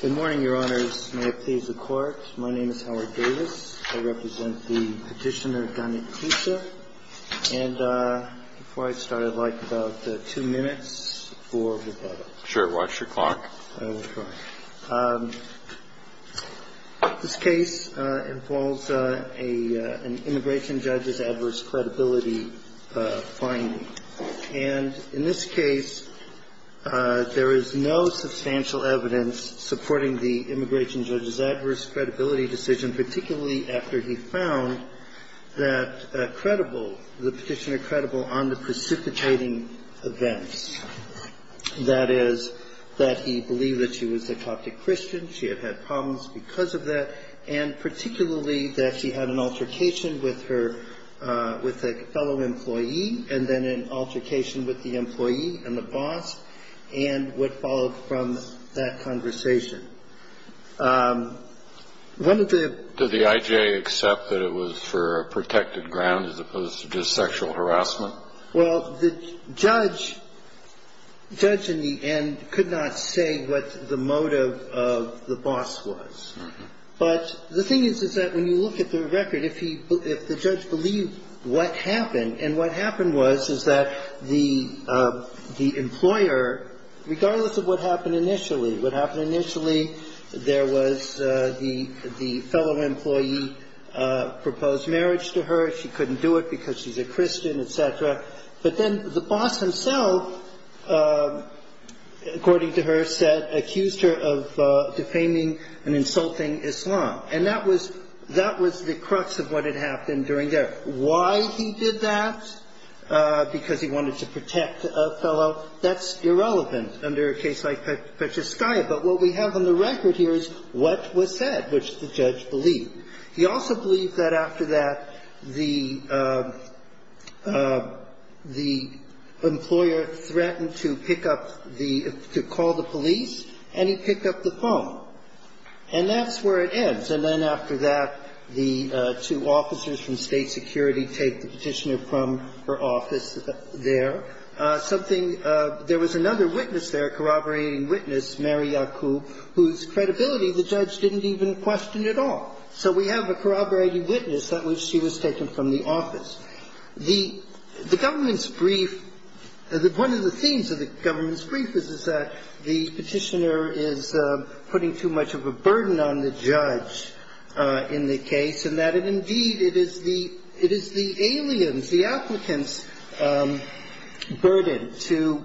Good morning, Your Honors. May it please the Court. My name is Howard Davis. I represent the Petitioner, Donna Koussa. And before I start, I'd like about two minutes for rebuttal. Sure. Watch your clock. This case involves a an immigration judge's adverse credibility finding. And in this case, there is no substantial evidence supporting the immigration judge's adverse credibility decision, particularly after he found that credible, the petitioner credible on the precipitating events. That is, that he believed that she was a Coptic Christian, she had had problems because of that, and particularly that she had an altercation with her, with a fellow employee, and then an altercation with the employee and the boss, and what followed from that conversation. Did the I.J. accept that it was for a protected ground as opposed to just sexual harassment? Well, the judge in the end could not say what the motive of the boss was. But the thing is, is that when you look at the record, if he, if the judge believed what happened, and what happened was, is that the employer, regardless of what happened initially, what happened initially, there was the fellow employee proposed marriage to her. She couldn't do it because she's a Christian, et cetera. But then the boss himself, according to her, said, accused her of defaming and insulting Islam. And that was, that was the crux of what had happened during there. Why he did that, because he wanted to protect a fellow, that's irrelevant under a case like Petroskaya. But what we have on the record here is what was said, which the judge believed. He also believed that after that, the, the employer threatened to pick up the, to call the police, and he picked up the phone. And that's where it ends. And then after that, the two officers from State Security take the Petitioner from her office there. Something, there was another witness there, corroborating witness, Mary Yakub, whose credibility the judge didn't even question at all. So we have a corroborating witness that she was taken from the office. The government's brief, one of the themes of the government's brief is that the Petitioner is putting too much of a burden on the judge in the case, and that indeed it is the, it is the alien's, the applicant's burden to,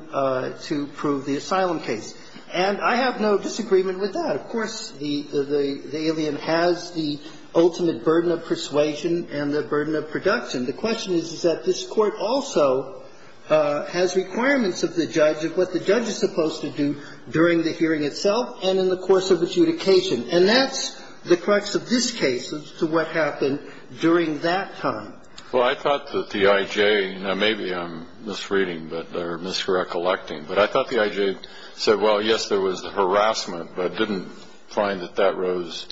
to prove the asylum case. And I have no disagreement with that. Of course, the, the alien has the ultimate burden of persuasion and the burden of production. The question is, is that this Court also has requirements of the judge of what the judge is supposed to do during the hearing itself and in the course of adjudication. And that's the crux of this case as to what happened during that time. Well, I thought that the I.J. Now, maybe I'm misreading or misrecollecting, but I thought the I.J. said, well, yes, there was the harassment, but didn't find that that rose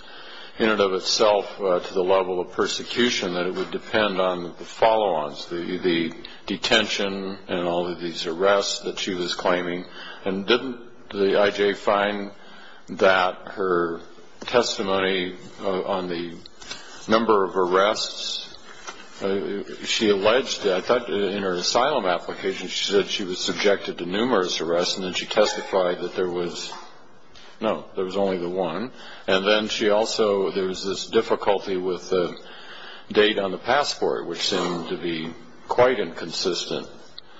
in and of itself to the level of persecution, that it would depend on the follow-ons, the detention and all of these arrests that she was claiming. And didn't the I.J. find that her testimony on the number of arrests, she alleged, I thought in her asylum application she said she was subjected to numerous arrests, and then she testified that there was, no, there was only the one. And then she also, there was this difficulty with the date on the passport, which seemed to be quite inconsistent.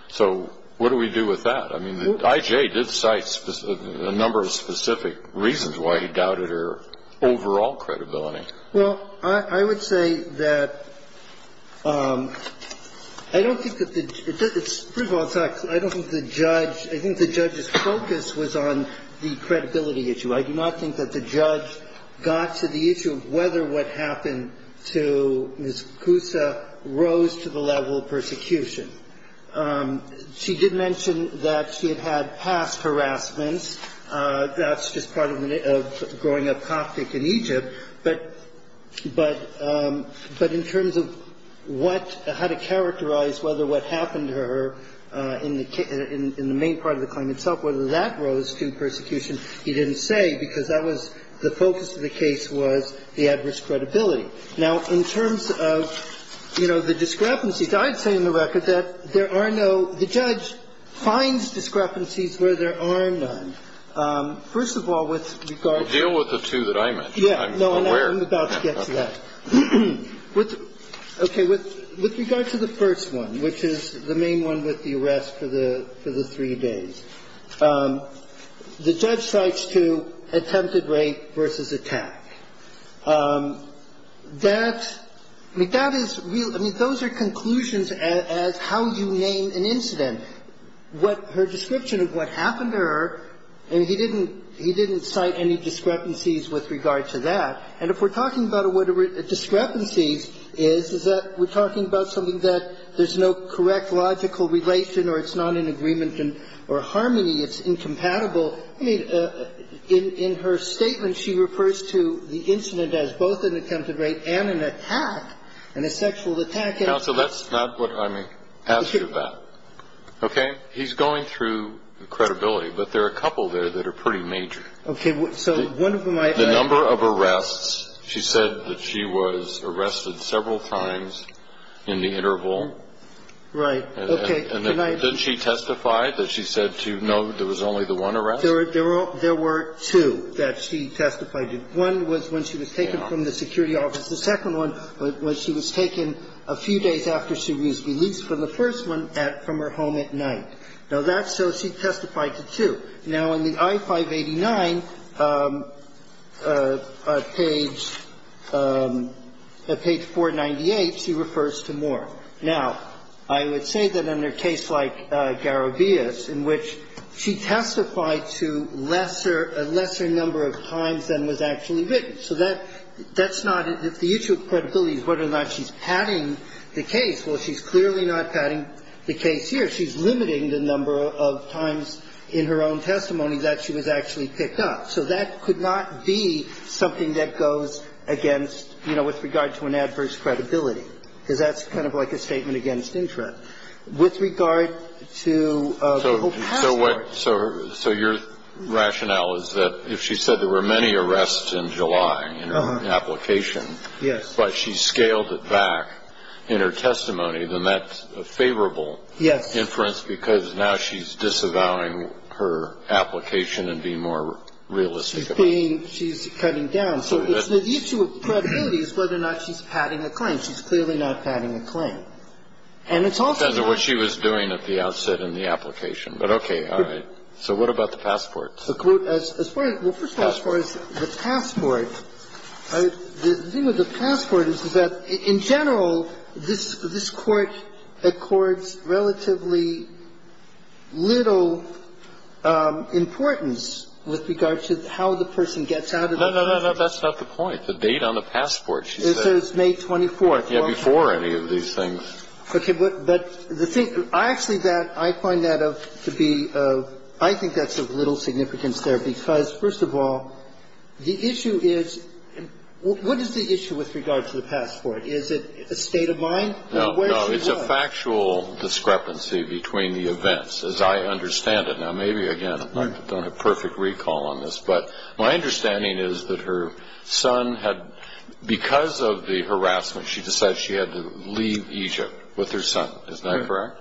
So what do we do with that? I mean, the I.J. did cite a number of specific reasons why he doubted her overall credibility. Well, I would say that I don't think that the, it's, first of all, it's not, I don't think the judge, I think the judge's focus was on the credibility issue. I do not think that the judge got to the issue of whether what happened to Ms. Koussa rose to the level of persecution. She did mention that she had had past harassments. That's just part of growing up Coptic in Egypt. But in terms of what, how to characterize whether what happened to her in the main part of the claim itself, whether that rose to persecution, he didn't say, because that was, the focus of the case was the adverse credibility. Now, in terms of, you know, the discrepancies, I'd say in the record that there are no, the judge finds discrepancies where there are none. First of all, with regard to the two that I mentioned. I'm aware. I'm about to get to that. Okay. With regard to the first one, which is the main one with the arrest for the three days, the judge cites two, attempted rape versus attack. That, I mean, that is real, I mean, those are conclusions as how you name an incident. Her description of what happened to her, I mean, he didn't cite any discrepancies with regard to that. And if we're talking about what a discrepancy is, is that we're talking about something that there's no correct logical relation or it's not in agreement or harmony, it's incompatible. I mean, in her statement, she refers to the incident as both an attempted rape and an attack, and a sexual attack. Now, that's not what I'm asking about. Okay? He's going through the credibility, but there are a couple there that are pretty major. Okay. So one of them I can ask. The number of arrests, she said that she was arrested several times in the interval. Right. Okay. And did she testify that she said, no, there was only the one arrest? There were two that she testified to. One was when she was taken from the security office. The second one was when she was taken a few days after she was released from the first one from her home at night. Now, that's so she testified to two. Now, in the I-589, page 498, she refers to more. Now, I would say that in a case like Garabias, in which she testified to lesser number of times than was actually written. So that's not the issue of credibility is whether or not she's padding the case. Well, she's clearly not padding the case here. She's limiting the number of times in her own testimony that she was actually picked up. So that could not be something that goes against, you know, with regard to an adverse credibility, because that's kind of like a statement against interest. With regard to the whole password. So your rationale is that if she said there were many arrests in July in her application. Yes. But she scaled it back in her testimony, then that's a favorable inference. Yes. Because now she's disavowing her application and being more realistic about it. She's cutting down. So the issue of credibility is whether or not she's padding a claim. She's clearly not padding a claim. And it's also. What she was doing at the outset in the application. But okay. All right. So what about the passport? Well, first of all, as far as the passport. The thing with the passport is that in general, this Court accords relatively little importance with regard to how the person gets out of it. No, no, no. That's not the point. The date on the passport, she said. It says May 24th. Yeah, before any of these things. Okay. But the thing. I actually find that to be. I think that's of little significance there. Because, first of all, the issue is. What is the issue with regard to the passport? Is it a state of mind? No, no. It's a factual discrepancy between the events, as I understand it. Now, maybe, again, I don't have perfect recall on this. But my understanding is that her son had. Because of the harassment, she decides she had to leave Egypt with her son. Is that correct?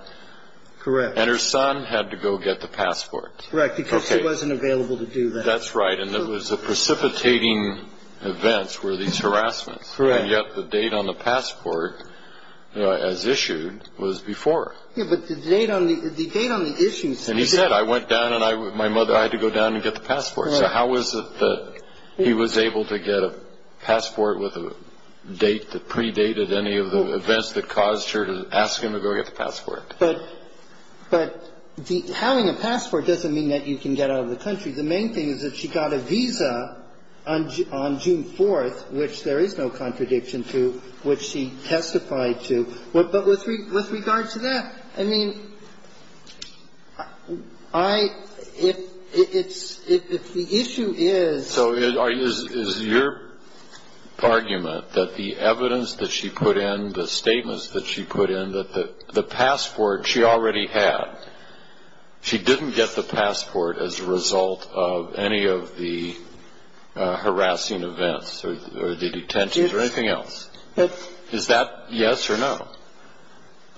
Correct. And her son had to go get the passport. Correct. Because he wasn't available to do that. That's right. And it was a precipitating event were these harassments. Correct. And yet the date on the passport, as issued, was before. Yeah, but the date on the issue. And he said, I went down and my mother, I had to go down and get the passport. So how is it that he was able to get a passport with a date that predated any of the events that caused her to ask him to go get the passport? But having a passport doesn't mean that you can get out of the country. The main thing is that she got a visa on June 4th, which there is no contradiction to, which she testified to. But with regard to that, I mean, if the issue is. So is your argument that the evidence that she put in, the statements that she put in, that the passport she already had, she didn't get the passport as a result of any of the harassing events or the detentions or anything else? Is that yes or no?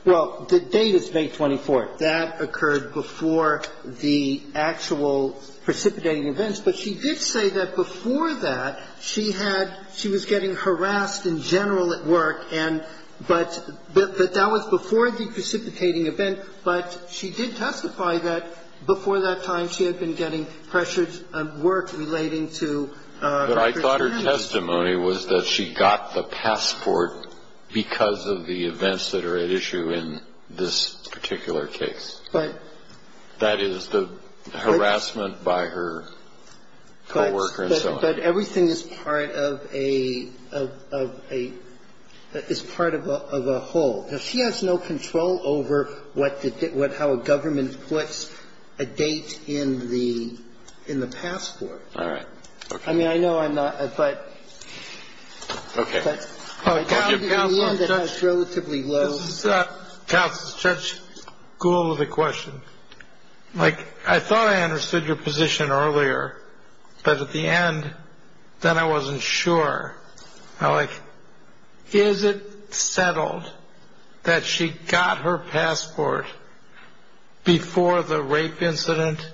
Well, the date is May 24th. That occurred before the actual precipitating events. But she did say that before that, she had, she was getting harassed in general at work, and but that was before the precipitating event, but she did testify that before that time she had been getting pressured at work relating to. But I thought her testimony was that she got the passport because of the events that are at issue in this particular case. But that is the harassment by her co-worker and so on. But everything is part of a, is part of a whole. She has no control over what, how a government puts a date in the passport. All right. I mean, I know I'm not, but. OK. But relatively low. That's such cool. The question like I thought I understood your position earlier. But at the end, then I wasn't sure. Is it settled that she got her passport before the rape incident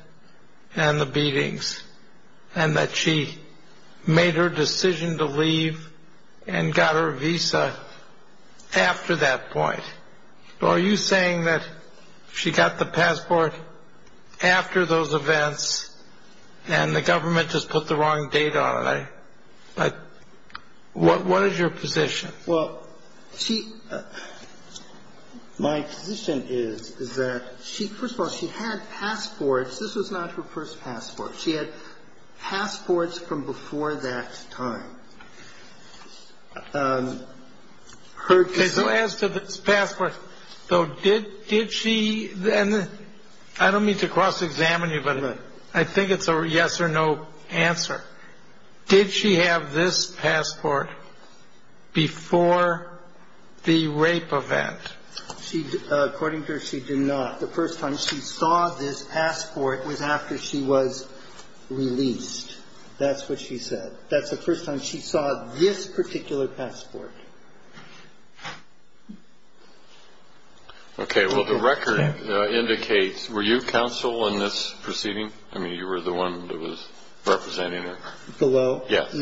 and the beatings and that she made her decision to leave and got her visa after that point? Are you saying that she got the passport after those events and the government just put the wrong date on it? But what is your position? Well, she. My position is, is that she first of all, she had passports. This was not her first passport. She had passports from before that time. So as to the passport. So did did she then? I don't mean to cross examine you, but I think it's a yes or no answer. Did she have this passport before the rape event? She according to her, she did not. The first time she saw this passport was after she was released. That's what she said. That's the first time she saw this particular passport. OK, well, the record indicates. Were you counsel in this proceeding? I mean, you were the one that was representing her below. Yes.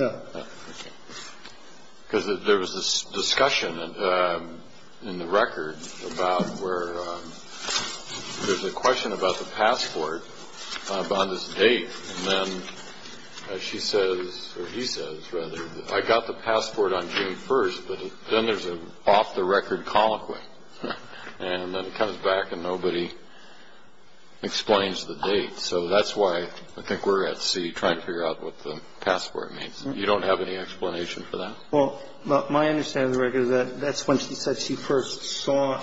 Because there was this discussion in the record about where there's a question about the passport on this date. And then she says or he says, rather, I got the passport on June 1st. But then there's an off the record colloquy. And then it comes back and nobody explains the date. So that's why I think we're at sea trying to figure out what the passport means. You don't have any explanation for that. Well, my understanding of the record is that that's when she said she first saw.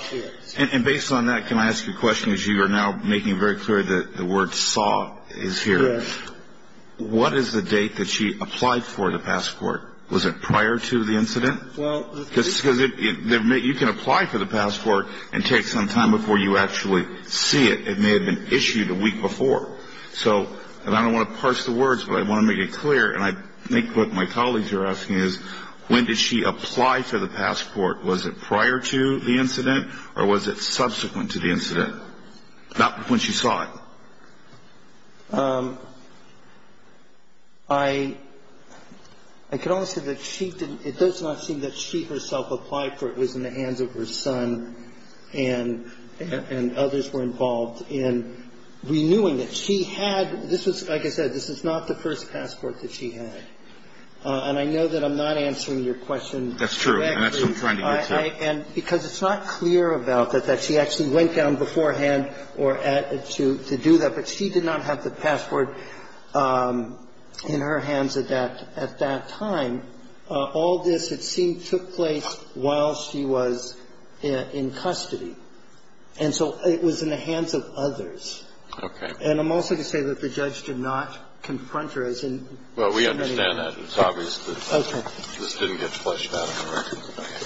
And based on that, can I ask you a question? As you are now making very clear that the word saw is here. What is the date that she applied for the passport? Was it prior to the incident? Because you can apply for the passport and take some time before you actually see it. It may have been issued a week before. So I don't want to parse the words, but I want to make it clear. And I think what my colleagues are asking is when did she apply for the passport? Was it prior to the incident or was it subsequent to the incident? Not when she saw it. I can only say that she didn't. It does not seem that she herself applied for it. And I agree with the point that the passport was in her hands at that time. And the passport was in the hands of her son and others were involved in renewing it. She had this was like I said, this is not the first passport that she had. And I know that I'm not answering your question. That's true. And that's what I'm trying to get to. And because it's not clear about that, that she actually went down beforehand or at to do that. But she did not have the passport in her hands at that at that time. All this, it seemed, took place while she was in custody. And so it was in the hands of others. Okay. And I'm also going to say that the judge did not confront her. Well, we understand that. It's obvious that this didn't get flushed out of the record.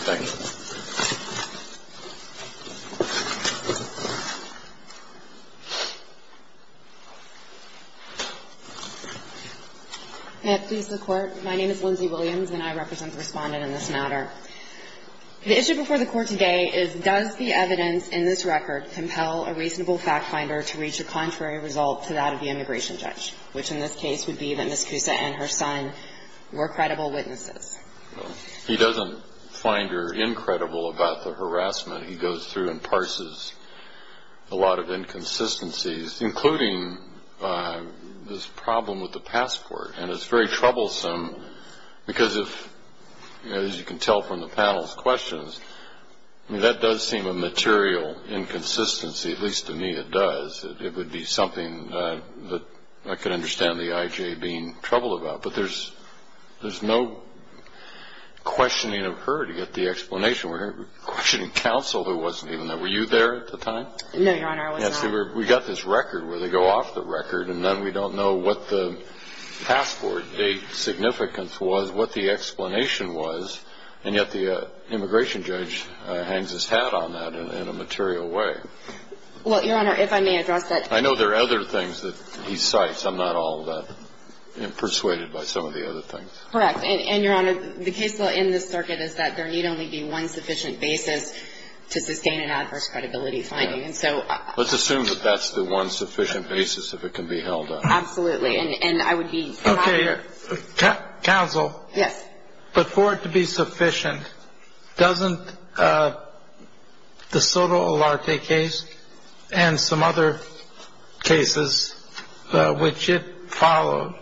Thank you. Ms. Cusa. May it please the Court. My name is Lindsay Williams and I represent the Respondent in this matter. The issue before the Court today is does the evidence in this record compel a reasonable fact finder to reach a contrary result to that of the immigration judge, which in this case would be that Ms. Cusa and her son were credible witnesses. He doesn't find her incredible about the harassment. He goes through and parses a lot of inconsistencies, including this problem with the passport. And it's very troublesome because, as you can tell from the panel's questions, that does seem a material inconsistency, at least to me it does. It would be something that I could understand the I.J. being troubled about. But there's no questioning of her to get the explanation. We're questioning counsel who wasn't even there. Were you there at the time? No, Your Honor. I was not. We got this record where they go off the record and then we don't know what the passport date significance was, what the explanation was. And yet the immigration judge hangs his hat on that in a material way. Well, Your Honor, if I may address that. I know there are other things that he cites. I'm not all that persuaded by some of the other things. Correct. And, Your Honor, the case law in this circuit is that there need only be one sufficient basis to sustain an adverse credibility finding. Let's assume that that's the one sufficient basis if it can be held up. Absolutely. And I would be happy to. Okay. Counsel. Yes. But for it to be sufficient, doesn't the Soto Olarte case and some other cases which it followed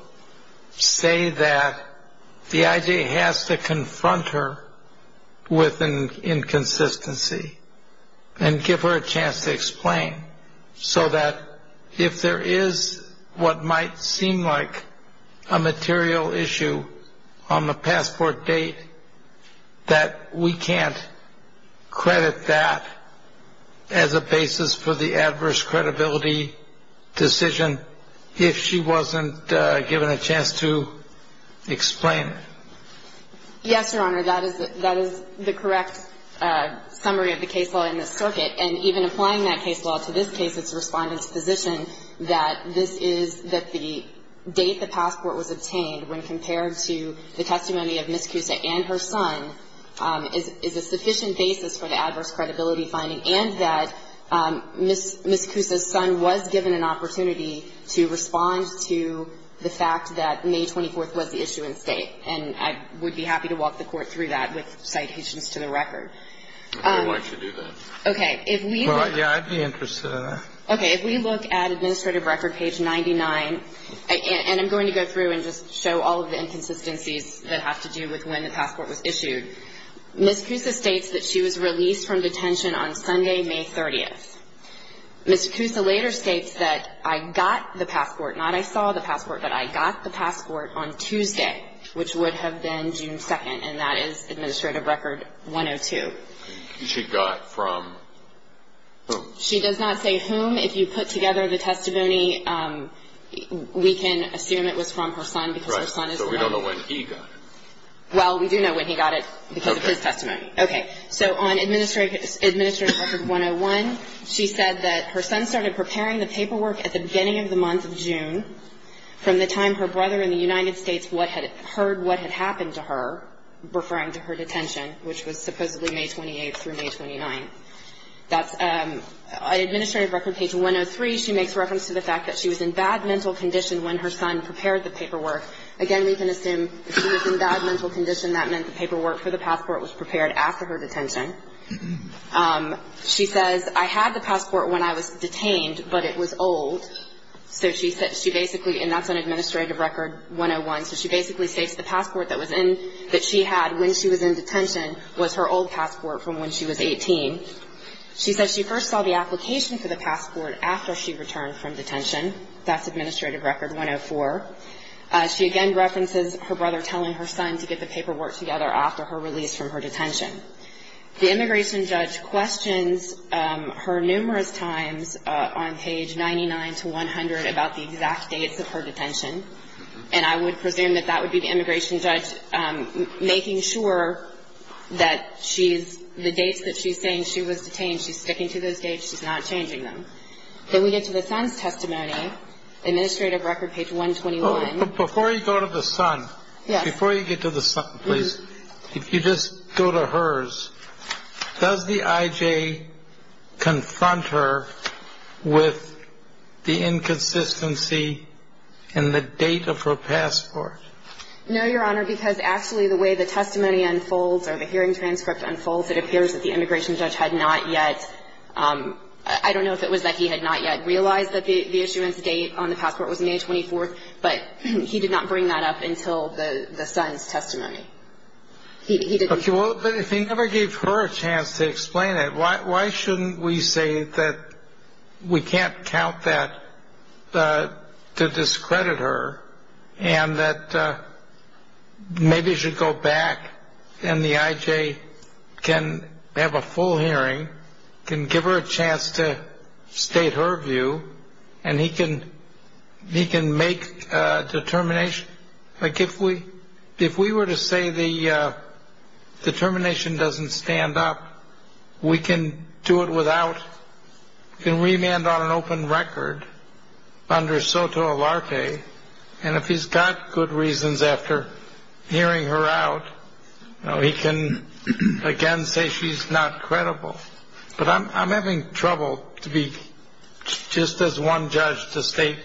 say that the IJ has to confront her with an inconsistency and give her a chance to explain so that if there is what might seem like a material issue on the passport date that we can't credit that as a basis for the adverse credibility decision if she wasn't given a chance to explain it? Yes, Your Honor. That is the correct summary of the case law in this circuit. And even applying that case law to this case, it's the Respondent's position that this is that the date the passport was obtained when compared to the testimony of Ms. Cusa and her son is a sufficient basis for the adverse credibility finding, and that Ms. Cusa's son was given an opportunity to respond to the fact that May 24th was the issue in State. And I would be happy to walk the Court through that with citations to the record. Okay. Why don't you do that? Okay. If we look at Administrative Record, page 99, and I'm going to go through and just show all of the inconsistencies that have to do with when the passport was issued. Ms. Cusa states that she was released from detention on Sunday, May 30th. Ms. Cusa later states that I got the passport, not I saw the passport, but I got the passport on Tuesday, which would have been June 2nd, and that is Administrative Record 102. Okay. She got from whom? She does not say whom. If you put together the testimony, we can assume it was from her son because her son is the only one. Right. So we don't know when he got it. Well, we do know when he got it because of his testimony. Okay. Okay. So on Administrative Record 101, she said that her son started preparing the paperwork at the beginning of the month of June from the time her brother in the United States heard what had happened to her, referring to her detention, which was supposedly May 28th through May 29th. That's an Administrative Record page 103. She makes reference to the fact that she was in bad mental condition when her son prepared the paperwork. Again, we can assume if she was in bad mental condition, that meant the paperwork for the passport was prepared after her detention. She says, I had the passport when I was detained, but it was old. So she basically, and that's on Administrative Record 101, so she basically states the passport that she had when she was in detention was her old passport from when she was 18. She says she first saw the application for the passport after she returned from detention. That's Administrative Record 104. She again references her brother telling her son to get the paperwork together after her release from her detention. The immigration judge questions her numerous times on page 99 to 100 about the exact dates of her detention, and I would presume that that would be the immigration judge making sure that the dates that she's saying she was detained, she's sticking to those dates, she's not changing them. Then we get to the son's testimony, Administrative Record page 121. Before you go to the son, before you get to the son, please, if you just go to hers, does the IJ confront her with the inconsistency in the date of her passport? No, Your Honor, because actually the way the testimony unfolds or the hearing transcript unfolds, it appears that the immigration judge had not yet, I don't know if it was that he had not yet realized that the issuance date on the passport was May 24th, but he did not bring that up until the son's testimony. Okay, well, if he never gave her a chance to explain it, why shouldn't we say that we can't count that to discredit her and that maybe you should go back and the IJ can have a full hearing, can give her a chance to state her view, and he can make a determination. Like if we were to say the determination doesn't stand up, we can do it without, we can remand on an open record under soto alarte, and if he's got good reasons after hearing her out, he can again say she's not credible. But I'm having trouble to be, just as one judge to state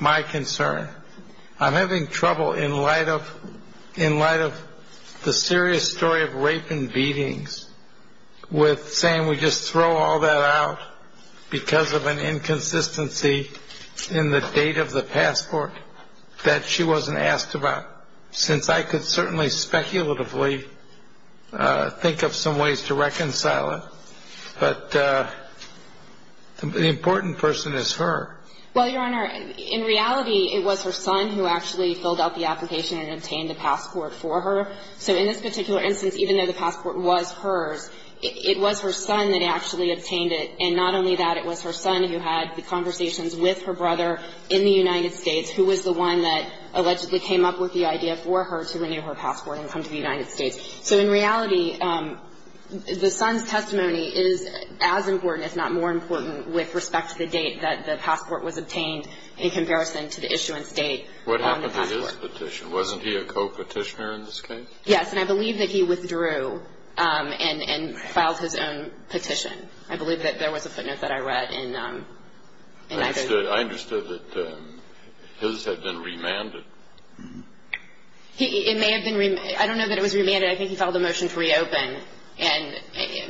my concern, I'm having trouble in light of the serious story of rape and beatings with saying we just throw all that out because of an inconsistency in the date of the passport that she wasn't asked about, since I could certainly speculatively think of some ways to reconcile it, but the important person is her. Well, Your Honor, in reality, it was her son who actually filled out the application and obtained a passport for her. So in this particular instance, even though the passport was hers, it was her son that actually obtained it, and not only that, it was her son who had the conversations with her brother in the United States who was the one that allegedly came up with the idea for her to renew her passport and come to the United States. So in reality, the son's testimony is as important, if not more important, with respect to the date that the passport was obtained in comparison to the issuance date on the passport. What happened to his petition? Wasn't he a co-petitioner in this case? Yes, and I believe that he withdrew and filed his own petition. I believe that there was a footnote that I read in either. I understood that his had been remanded. It may have been remanded. I don't know that it was remanded. I think he filed a motion to reopen,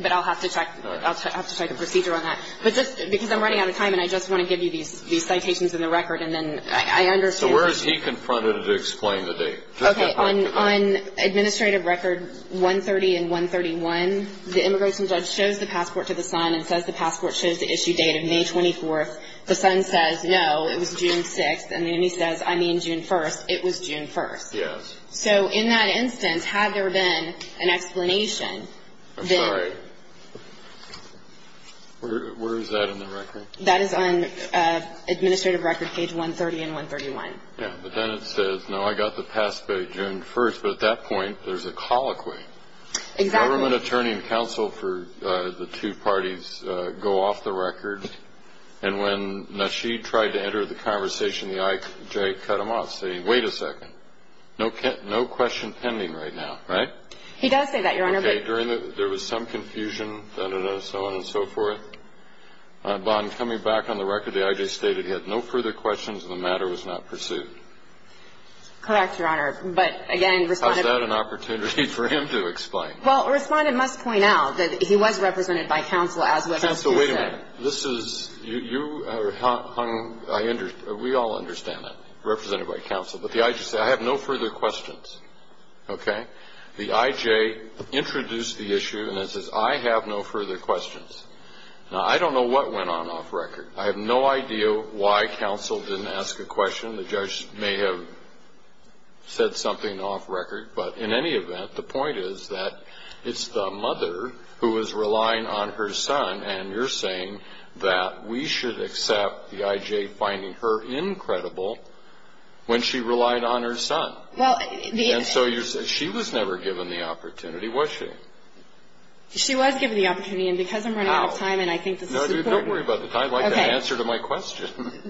but I'll have to check the procedure on that. But just because I'm running out of time, and I just want to give you these citations in the record, and then I understand. So where is he confronted to explain the date? Okay, on administrative record 130 and 131, the immigration judge shows the passport to the son and says the passport shows the issue date of May 24th. The son says, no, it was June 6th. And then he says, I mean June 1st. It was June 1st. Yes. So in that instance, had there been an explanation, then... I'm sorry. Where is that in the record? That is on administrative record page 130 and 131. Yeah, but then it says, no, I got the passport June 1st. But at that point, there's a colloquy. Exactly. The government attorney and counsel for the two parties go off the record. And when Nasheed tried to enter the conversation, the I.J. cut him off, saying, wait a second. No question pending right now, right? He does say that, Your Honor. Okay, there was some confusion, da-da-da, so on and so forth. Bond, coming back on the record, the I.J. stated he had no further questions and the matter was not pursued. Correct, Your Honor, but again... The respondent must point out that he was represented by counsel, as was... Counsel, wait a minute. This is... you... we all understand that, represented by counsel. But the I.J. said, I have no further questions. Okay? The I.J. introduced the issue and it says, I have no further questions. Now, I don't know what went on off record. I have no idea why counsel didn't ask a question. The judge may have said something off record. But in any event, the point is that it's the mother who is relying on her son, and you're saying that we should accept the I.J. finding her incredible when she relied on her son. Well, the... And so she was never given the opportunity, was she? She was given the opportunity, and because I'm running out of time... How? And I think this is important. No, don't worry about the time. Okay. I'd like an answer to my question.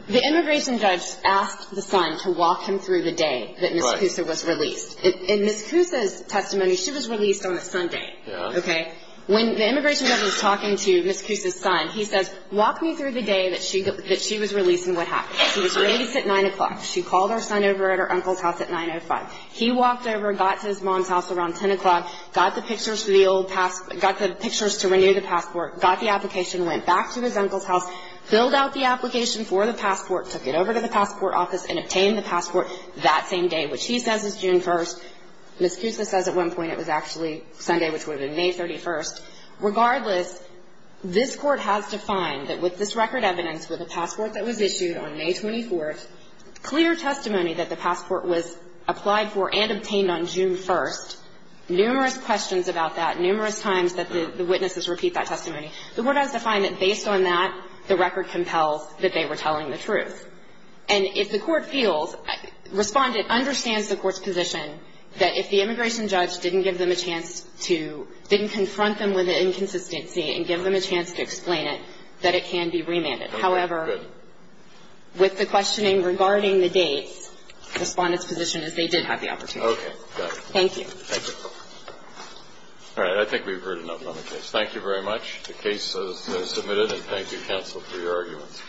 The immigration judge asked the son to walk him through the day that Mr. Poussa was released. In Ms. Poussa's testimony, she was released on a Sunday. Okay? When the immigration judge was talking to Ms. Poussa's son, he says, walk me through the day that she was released and what happened. She was released at 9 o'clock. She called her son over at her uncle's house at 905. He walked over and got to his mom's house around 10 o'clock, got the pictures for the old passport, got the pictures to renew the passport, got the application, went back to his uncle's house, filled out the application for the passport, took it over to the passport office and obtained the passport that same day, which he says is June 1st. Ms. Poussa says at one point it was actually Sunday, which would have been May 31st. Regardless, this Court has defined that with this record evidence, with a passport that was issued on May 24th, clear testimony that the passport was applied for and obtained on June 1st, numerous questions about that, numerous times that the witnesses repeat that testimony. The Court has defined that based on that, the record compels that they were telling the truth. And if the Court feels, Respondent understands the Court's position that if the immigration judge didn't give them a chance to, didn't confront them with the inconsistency and give them a chance to explain it, that it can be remanded. However, with the questioning regarding the dates, Respondent's position is they did have the opportunity. Thank you. All right. I think we've heard enough on the case. Thank you very much. The case is submitted, and thank you, counsel, for your arguments.